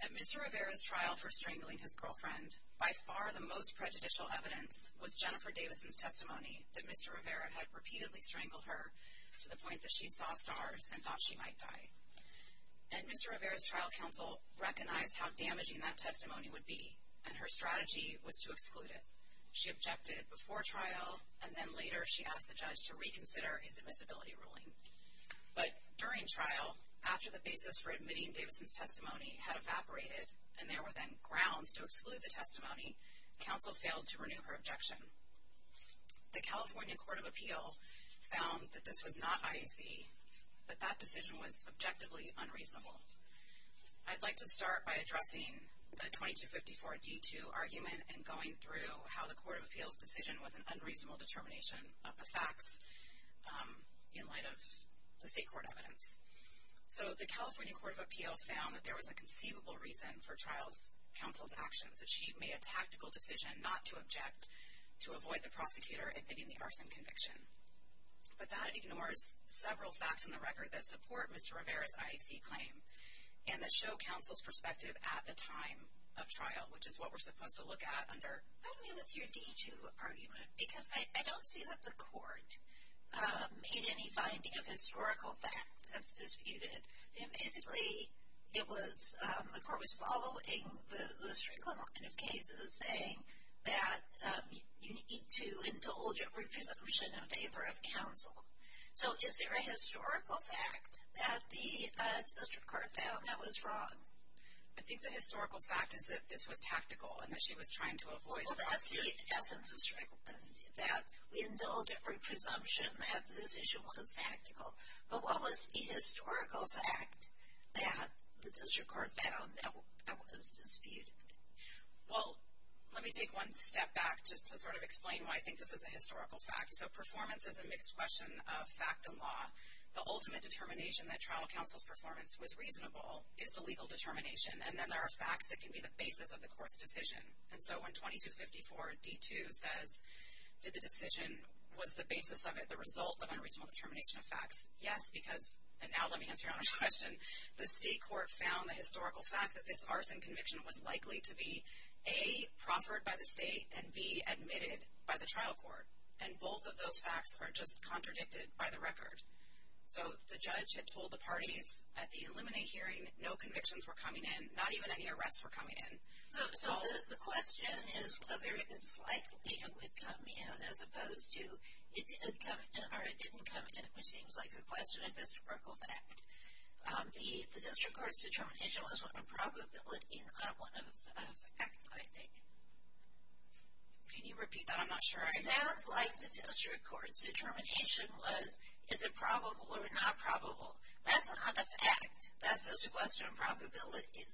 At Mr. Rivera's trial for strangling his girlfriend, by far the most prejudicial evidence was Jennifer Davidson's testimony that Mr. Rivera had repeatedly strangled her to the point that she saw stars and thought she might die. At Mr. Rivera's trial, counsel recognized how damaging that testimony would be and her strategy was to exclude it. She objected before trial and then later she asked the judge to reconsider his admissibility ruling. But during trial, after the basis for admitting Davidson's testimony had evaporated and there were then grounds to exclude the testimony, counsel failed to renew her objection. The California Court of Appeal found that this was not IAC, but that decision was objectively unreasonable. I'd like to start by addressing the 2254 D2 argument and going through how the Court of Appeal's decision was an unreasonable determination of the facts in light of the state court evidence. So the California Court of Appeal found that there was a conceivable reason for trial counsel's actions. That she made a tactical decision not to object to avoid the prosecutor admitting the arson conviction. But that ignores several facts in the record that support Mr. Rivera's IAC claim and that show counsel's perspective at the time of trial, which is what we're supposed to look at under the 2254 D2 argument, because I don't see that the court made any finding of historical facts that's disputed. Basically, it was, the court was following the string of cases saying that you need to indulge in presumption in favor of counsel. So is there a historical fact that the district court found that was wrong? I think the historical fact is that this was tactical and that she was trying to avoid Well, that's the essence of, that we indulge in presumption that the decision was tactical. But what was the historical fact that the district court found that was disputed? Well, let me take one step back just to sort of explain why I think this is a historical fact. So performance is a mixed question of fact and law. The ultimate determination that trial counsel's performance was reasonable is the legal determination. And then there are facts that can be the basis of the court's decision. And so when 2254 D2 says, did the decision, was the basis of it the result of unreasonable determination of facts? Yes, because, and now let me answer your own question, the state court found the historical fact that this arson conviction was likely to be, A, proffered by the state and B, admitted by the trial court. And both of those facts are just contradicted by the record. So the judge had told the parties at the Illuminate hearing, no convictions were coming in, not even any arrests were coming in. So the question is whether it is likely it would come in as opposed to it didn't come in, or it didn't come in, which seems like a question of historical fact. The district court's determination was one of probability, not one of fact finding. Can you repeat that? I'm not sure. It sounds like the district court's determination was, is it probable or not probable? That's not a fact. That's a question of probabilities.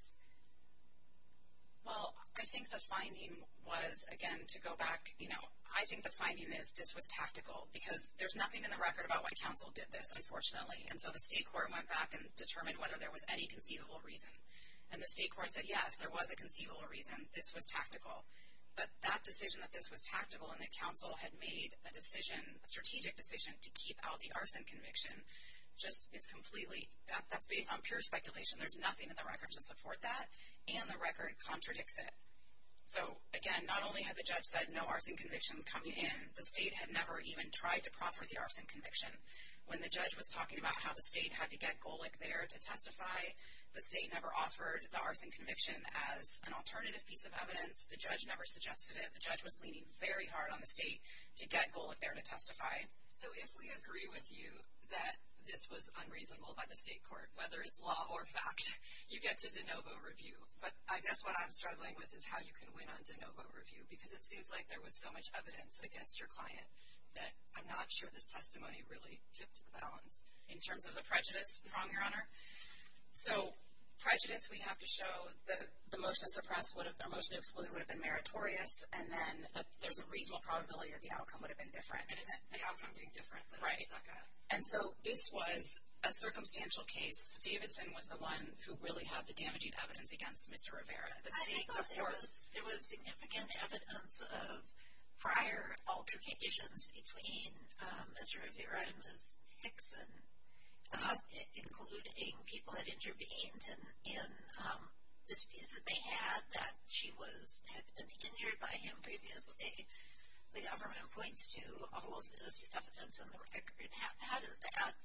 Well, I think the finding was, again, to go back, you know, I think the finding is this was tactical. Because there's nothing in the record about why counsel did this, unfortunately. And so the state court went back and determined whether there was any conceivable reason. And the state court said, yes, there was a conceivable reason, this was tactical. But that decision that this was tactical and that counsel had made a decision, a strategic decision to keep out the arson conviction, just is completely, that's based on pure speculation. There's nothing in the record to support that, and the record contradicts it. So again, not only had the judge said no arson convictions coming in, the state had never even tried to proffer the arson conviction. When the judge was talking about how the state had to get Golick there to testify, the state never offered the arson conviction as an alternative piece of evidence. The judge never suggested it. The judge was leaning very hard on the state to get Golick there to testify. So if we agree with you that this was unreasonable by the state court, whether it's law or fact, you get to de novo review. But I guess what I'm struggling with is how you can win on de novo review. Because it seems like there was so much evidence against your client that I'm not sure this testimony really tipped the balance in terms of the prejudice prong, Your Honor. So prejudice, we have to show that the motion to suppress or the motion to exclude would have been meritorious, and then that there's a reasonable probability that the outcome would have been different. And it's the outcome being different that makes that good. And so this was a circumstantial case. Davidson was the one who really had the damaging evidence against Mr. Rivera. I think that there was significant evidence of prior altercations between Mr. Rivera and Ms. Hickson, including people that intervened in disputes that they had that she had been injured by him previously. The government points to all of this evidence on the record. How does that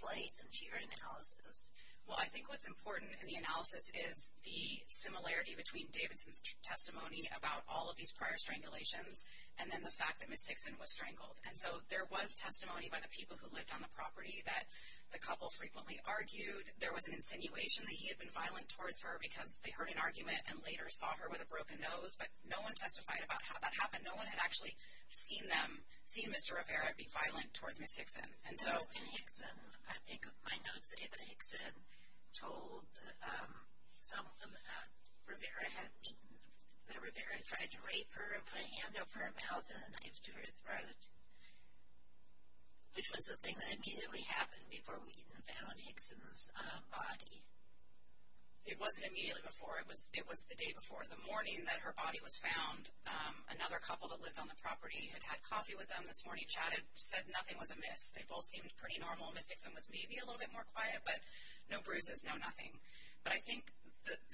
play into your analysis? Well, I think what's important in the analysis is the similarity between Davidson's testimony about all of these prior strangulations and then the fact that Ms. Hickson was strangled. And so there was testimony by the people who lived on the property that the couple frequently argued. There was an insinuation that he had been violent towards her because they heard an argument and later saw her with a broken nose. But no one testified about how that happened. No one had actually seen them, seen Mr. Rivera be violent towards Ms. Hickson. And so in Hickson, I think my notes say that Hickson told some of them that Rivera had beaten her, that Rivera had tried to rape her and put a hand over her mouth and a knife to her throat, which was the thing that immediately happened before we even found Hickson's body. It wasn't immediately before. It was the day before. The morning that her body was found, another couple that lived on the property had had coffee with them this morning, chatted, said nothing was amiss. They both seemed pretty normal. Ms. Hickson was maybe a little bit more quiet, but no bruises, no nothing. But I think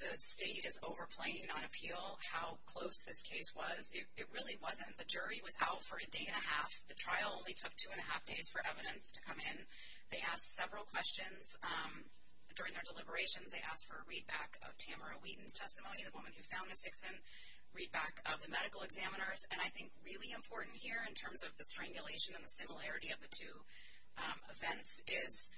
the state is overplaying on appeal how close this case was. It really wasn't. The jury was out for a day and a half. The trial only took two and a half days for evidence to come in. They asked several questions during their deliberations. They asked for a readback of Tamara Wheaton's testimony, the woman who found Ms. Hickson, readback of the medical examiners. And I think really important here in terms of the strangulation and the similarity of the two events is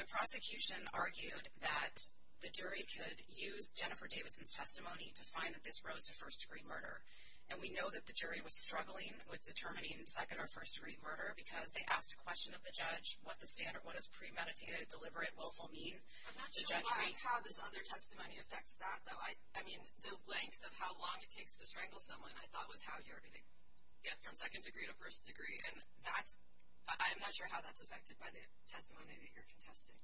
the prosecution argued that the jury could use Jennifer Davidson's testimony to find that this rose to first-degree murder. And we know that the jury was struggling with determining second- or first-degree murder because they asked a question of the judge, what does premeditated deliberate willful mean? I'm not sure how this other testimony affects that, though. I mean, the length of how long it takes to strangle someone, I thought, was how you're going to get from second degree to first degree. And that's, I'm not sure how that's affected by the testimony that you're contesting.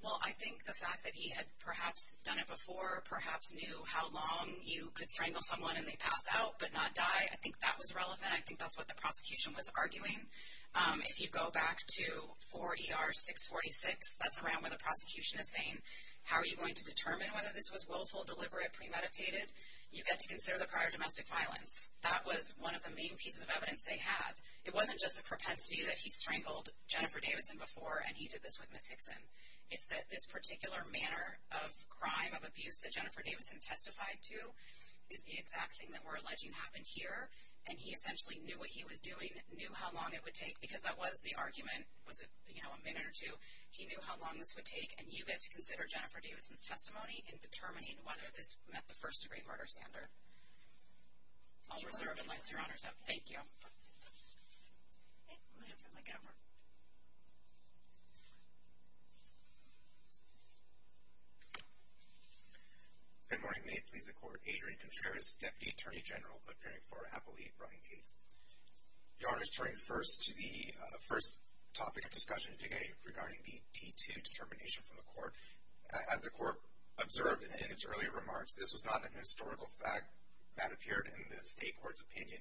Well, I think the fact that he had perhaps done it before, perhaps knew how long you could strangle someone and they pass out but not die, I think that was relevant. I think that's what the prosecution was arguing. If you go back to 4 ER 646, that's around where the prosecution is saying, how are you going to determine whether this was willful, deliberate, premeditated? You get to consider the prior domestic violence. That was one of the main pieces of evidence they had. It wasn't just a propensity that he strangled Jennifer Davidson before and he did this with Ms. Hickson. It's that this particular manner of crime, of abuse that Jennifer Davidson testified to is the exact thing that we're alleging happened here. And he essentially knew what he was doing, knew how long it would take because that was the argument, was it, you know, a minute or two. He knew how long this would take and you get to consider Jennifer Davidson's testimony in determining whether this met the first-degree murder standard. I'll reserve and list your honors up. Thank you. I'm going to hand it over to my governor. Good morning. May it please the Court. Adrian Contreras, Deputy Attorney General, appearing for Appellee Brian Gates. Your Honor, turning first to the first topic of discussion today regarding the D2 determination from the Court. As the Court observed in its earlier remarks, this was not a historical fact that appeared in the state court's opinion.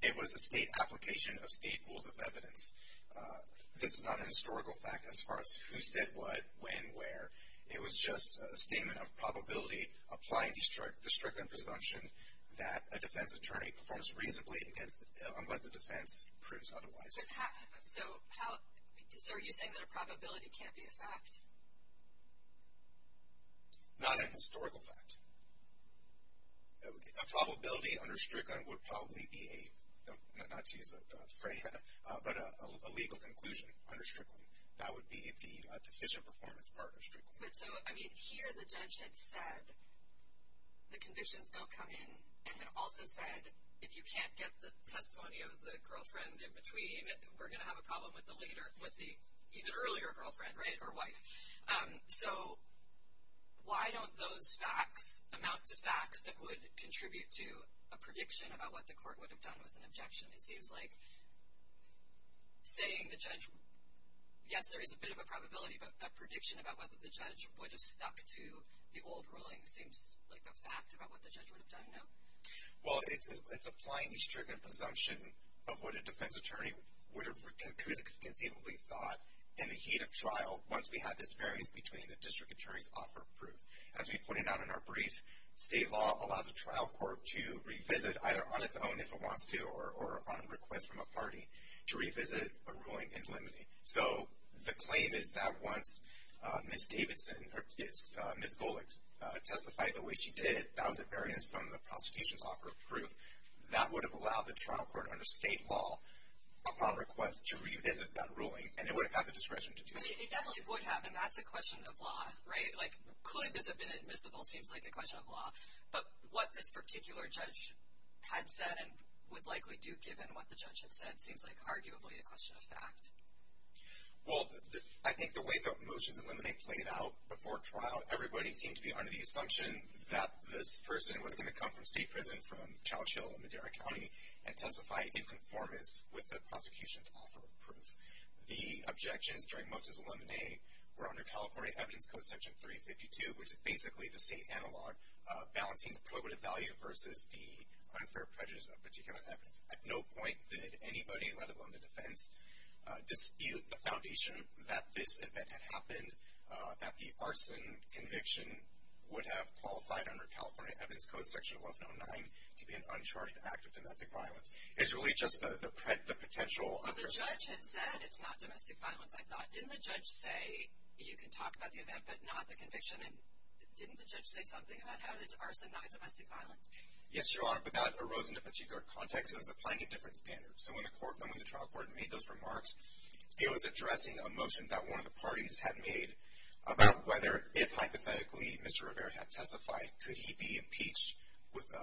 It was a state application of state rules of evidence. This is not a historical fact as far as who said what, when, where. It was just a statement of probability applying the stricter presumption that a defense attorney performs reasonably unless the defense proves otherwise. So are you saying that a probability can't be a fact? Not a historical fact. A probability under Strickland would probably be a, not to use a phrase, but a legal conclusion under Strickland. That would be the deficient performance part of Strickland. But so, I mean, here the judge had said the convictions don't come in and had also said if you can't get the testimony of the girlfriend in between, we're going to have a problem with the later, with the even earlier girlfriend, right? Or wife. So why don't those facts amount to facts that would contribute to a prediction about what the Court would have done with an objection? It seems like saying the judge, yes, there is a bit of a probability, but a prediction about whether the judge would have stuck to the old ruling seems like a fact about what the judge would have done, no? Well, it's applying the Strickland presumption of what a defense attorney would have, could have conceivably thought in the heat of trial once we had disparities between the district attorneys offer proof. As we pointed out in our brief, state law allows a trial court to revisit, either on its own if it wants to or on a request from a party, to revisit a ruling in limine. So the claim is that once Ms. Davidson, or Ms. Golick, testified the way she did, that was at variance from the prosecution's offer of proof, that would have allowed the trial court under state law, upon request, to revisit that ruling, and it would have had the discretion to do so. It definitely would have, and that's a question of law, right? Like, could this have been admissible seems like a question of law. But what this particular judge had said and would likely do, given what the judge had said, seems like arguably a question of fact. Well, I think the way that motions in limine played out before trial, everybody seemed to be under the assumption that this person was going to come from state prison, from Childs Hill in Madera County, and testify in conformance with the prosecution's offer of proof. The objections during motions in limine were under California Evidence Code Section 352, which is basically the state analog of balancing the probative value versus the unfair prejudice of particular evidence. At no point did anybody, let alone the defense, dispute the foundation that this event had happened, that the arson conviction would have qualified under California Evidence Code Section 1109 to be an uncharged act of domestic violence. It's really just the potential of the person. But the judge had said it's not domestic violence, I thought. Didn't the judge say, you can talk about the event, but not the conviction? Didn't the judge say something about how it's arson, not domestic violence? Yes, Your Honor, but that arose in a particular context. It was applying a different standard. So when the trial court made those remarks, it was addressing a motion that one of the parties had made about whether, if hypothetically, Mr. Rivera had testified, could he be impeached with a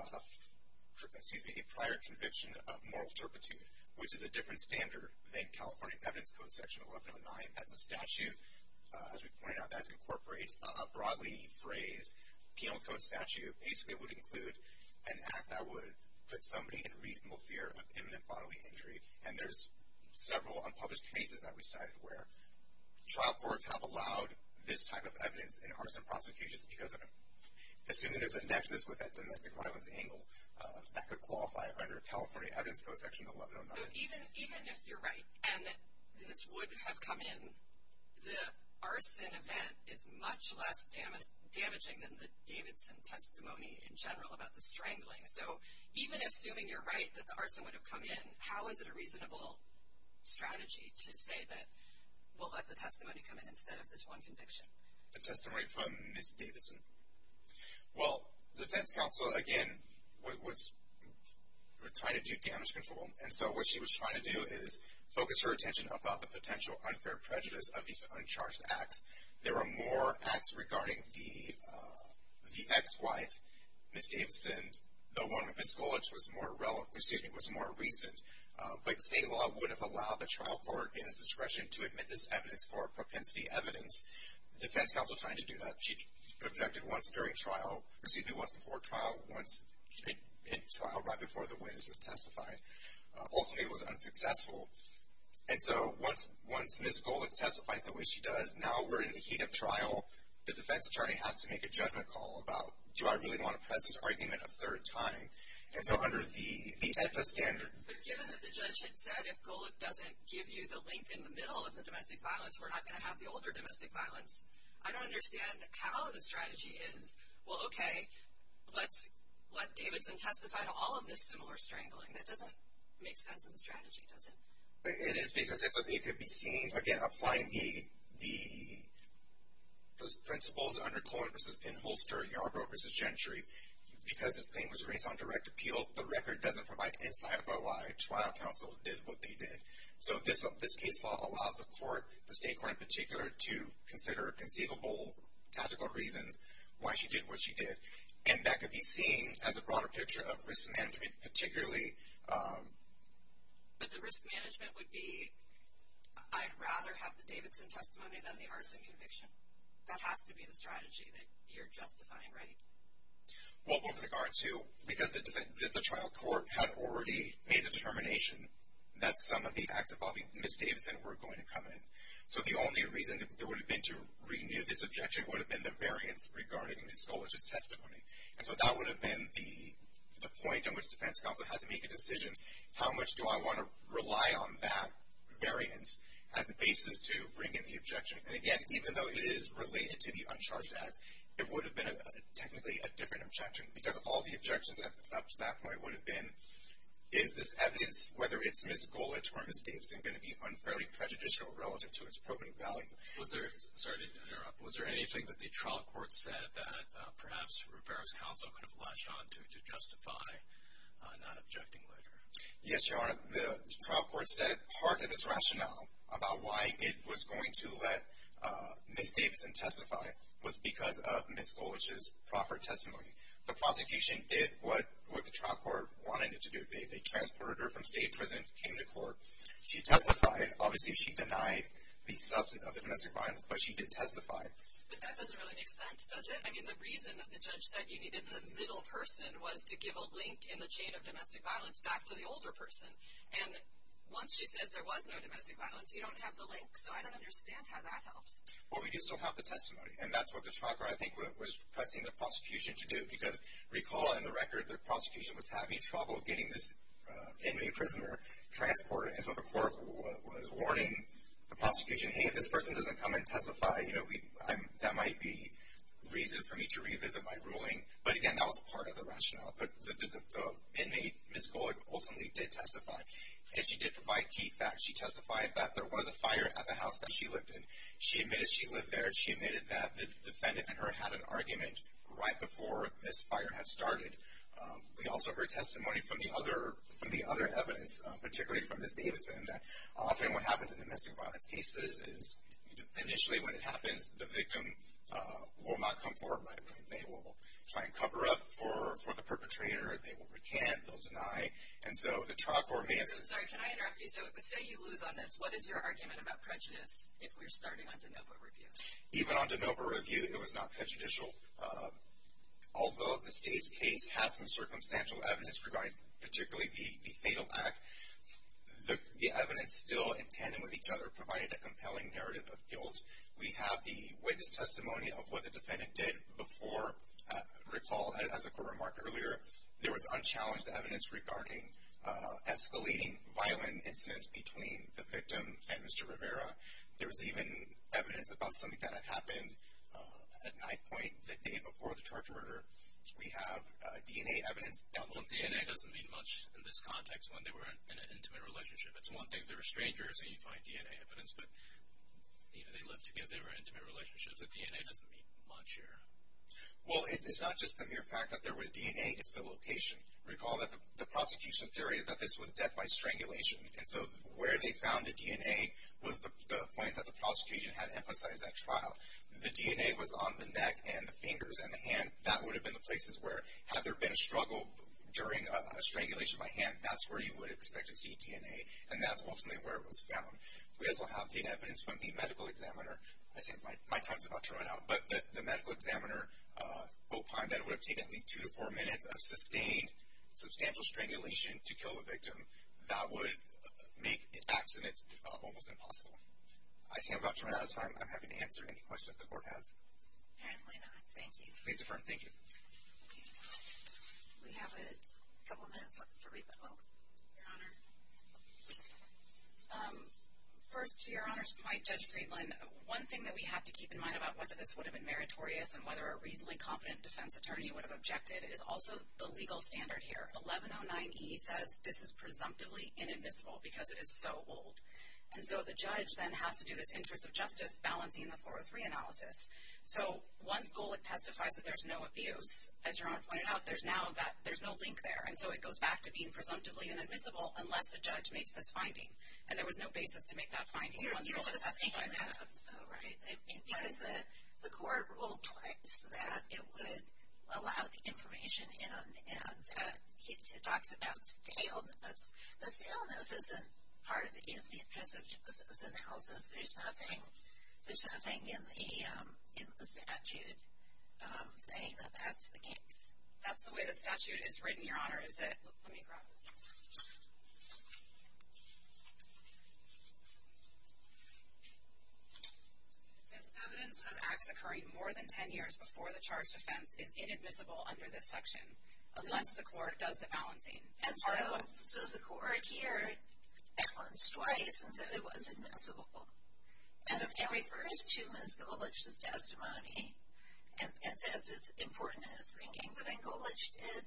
prior conviction of moral turpitude, which is a different standard than California Evidence Code Section 1109. That's a statute, as we pointed out, that incorporates a broadly phrased penal code statute. Basically, it would include an act that would put somebody in reasonable fear of imminent bodily injury. And there's several unpublished cases that we cited where trial courts have allowed this type of evidence in arson prosecutions because, assuming there's a nexus with that domestic violence angle, that could qualify under California Evidence Code Section 1109. So even if you're right, and this would have come in, the arson event is much less damaging than the Davidson testimony in general about the strangling. So even assuming you're right that the arson would have come in, how is it a reasonable strategy to say that we'll let the testimony come in instead of this one conviction? The testimony from Ms. Davidson. Well, the defense counsel, again, was trying to do damage control. And so what she was trying to do is focus her attention about the potential unfair prejudice of these uncharged acts. There were more acts regarding the ex-wife, Ms. Davidson. The one with Ms. Golich was more recent. But state law would have allowed the trial court in its discretion to admit this evidence for propensity evidence. The defense counsel tried to do that. She objected once during trial, or excuse me, once before trial, once in trial right before the witnesses testified. Ultimately, it was unsuccessful. And so once Ms. Golich testifies the way she does, now we're in the heat of trial. The defense attorney has to make a judgment call about, do I really want to press this argument a third time? And so under the EPA standard... But given that the judge had said, if Golich doesn't give you the link in the middle of the domestic violence, we're not going to have the older domestic violence, I don't understand how the strategy is, well, okay, let's let Davidson testify to all of this similar strangling. That doesn't make sense as a strategy, does it? It is because it's something that could be seen, again, applying the principles under Cohen v. Inholster, Yarbrough v. Gentry. Because this claim was raised on direct appeal, the record doesn't provide insight about why trial counsel did what they did. So this case law allows the court, the state court in particular, to consider conceivable tactical reasons why she did what she did. And that could be seen as a broader picture of risk management, particularly... But the risk management would be, I'd rather have the Davidson testimony than the arson conviction. That has to be the strategy that you're justifying, right? Well, with regard to... Because the trial court had already made the determination that some of the acts involving Ms. Davidson were going to come in. So the only reason there would have been to renew this objection would have been the variance regarding Ms. Gullich's testimony. And so that would have been the point at which defense counsel had to make a decision. How much do I want to rely on that variance as a basis to bring in the objection? And again, even though it is related to the uncharged acts, it would have been technically a different objection. Because all the objections up to that point would have been, is this evidence, whether it's Ms. Gullich or Ms. Davidson, going to be unfairly prejudicial relative to its appropriate value? Sorry to interrupt. Was there anything that the trial court said that perhaps Rivera's counsel could have latched onto to justify not objecting later? Yes, Your Honor. The trial court said part of its rationale about why it was going to let Ms. Davidson testify was because of Ms. Gullich's proffered testimony. The prosecution did what the trial court wanted it to do. They transported her from state prison, came to court. She testified. Obviously, she denied the substance of the domestic violence, but she did testify. But that doesn't really make sense, does it? I mean, the reason that the judge said you needed the middle person was to give a link in the chain of domestic violence back to the older person. And once she says there was no domestic violence, you don't have the link. So I don't understand how that helps. Well, we do still have the testimony. And that's what the trial court, I think, was pressing the prosecution to do. Because recall in the record, the prosecution was having trouble getting this inmate prisoner transported. And so the court was warning the prosecution, hey, if this person doesn't come and testify, that might be reason for me to revisit my ruling. But again, that was part of the rationale. But the inmate, Ms. Gullich, ultimately did testify. And she did provide key facts. She testified that there was a fire at the house that she lived in. She admitted she lived there. She admitted that the defendant and her had an argument right before this fire had started. We also heard testimony from the other evidence, particularly from Ms. Davidson, that often what happens in domestic violence cases is initially when it happens, the victim will not come forward. They will try and cover up for the perpetrator. They will recant. They'll deny. And so the trial court may have said – I'm sorry. Can I interrupt you? So say you lose on this. What is your argument about prejudice if we're starting on de novo review? Even on de novo review, it was not prejudicial. Although the state's case has some circumstantial evidence regarding particularly the fatal act, the evidence still, in tandem with each other, provided a compelling narrative of guilt. We have the witness testimony of what the defendant did before. Recall, as the court remarked earlier, there was unchallenged evidence regarding escalating violent incidents between the victim and Mr. Rivera. There was even evidence about something that had happened at knife point the day before the charge of murder. We have DNA evidence. Well, DNA doesn't mean much in this context when they were in an intimate relationship. It's one thing if they were strangers and you find DNA evidence, but they lived together. They were in intimate relationships. But DNA doesn't mean much here. Well, it's not just the mere fact that there was DNA. It's the location. Recall that the prosecution's theory is that this was death by strangulation. And so where they found the DNA was the point that the prosecution had emphasized at trial. The DNA was on the neck and the fingers and the hands. That would have been the places where, had there been a struggle during a strangulation by hand, that's where you would expect to see DNA. And that's ultimately where it was found. We also have data evidence from the medical examiner. I think my time is about to run out. But the medical examiner opined that it would have taken at least two to four minutes of sustained, substantial strangulation to kill the victim. That would make the accident almost impossible. I see I'm about to run out of time. I'm happy to answer any questions the court has. Apparently not. Thank you. Please affirm. We have a couple minutes for rebuttal, Your Honor. First, to Your Honor's point, Judge Friedland, one thing that we have to keep in mind about whether this would have been meritorious and whether a reasonably confident defense attorney would have objected is also the legal standard here. 1109E says this is presumptively inadmissible because it is so old. And so the judge then has to do this interest of justice balancing the 403 analysis. So one school, it testifies that there's no abuse. As Your Honor pointed out, there's no link there. And so it goes back to being presumptively inadmissible unless the judge makes this finding. And there was no basis to make that finding. You're just saying that, though, right? Because the court ruled twice that it would allow the information in. And it talks about staleness. But staleness isn't part of the interest of justice analysis. There's nothing in the statute saying that that's the case. That's the way the statute is written, Your Honor, is it? Let me grab it. It says evidence of acts occurring more than 10 years before the charged offense is inadmissible under this section unless the court does the balancing. And so the court here balanced twice and said it was admissible. And it refers to Ms. Golich's testimony and says it's important in its thinking. But then Golich did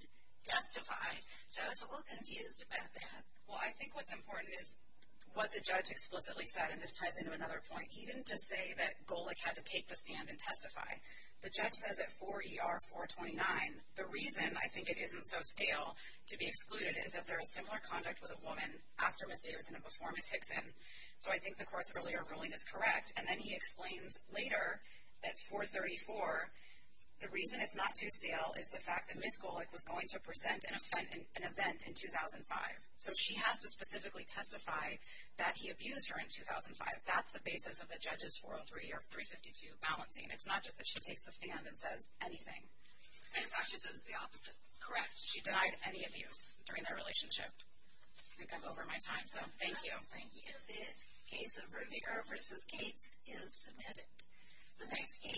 testify. So I was a little confused about that. Well, I think what's important is what the judge explicitly said. And this ties into another point. He didn't just say that Golich had to take the stand and testify. The judge says at 4 ER 429 the reason I think it isn't so stale to be excluded is that there is similar conduct with a woman after Ms. Davidson and before Ms. Hickson. So I think the court's earlier ruling is correct. And then he explains later at 434 the reason it's not too stale is the fact that Ms. Golich was going to present an event in 2005. So she has to specifically testify that he abused her in 2005. That's the basis of the judge's 403 or 352 balancing. It's not just that she takes the stand and says anything. And in fact, she says it's the opposite. Correct. She denied any abuse during their relationship. I think I'm over my time, so thank you. Thank you. The case of Rivera v. Gates is submitted.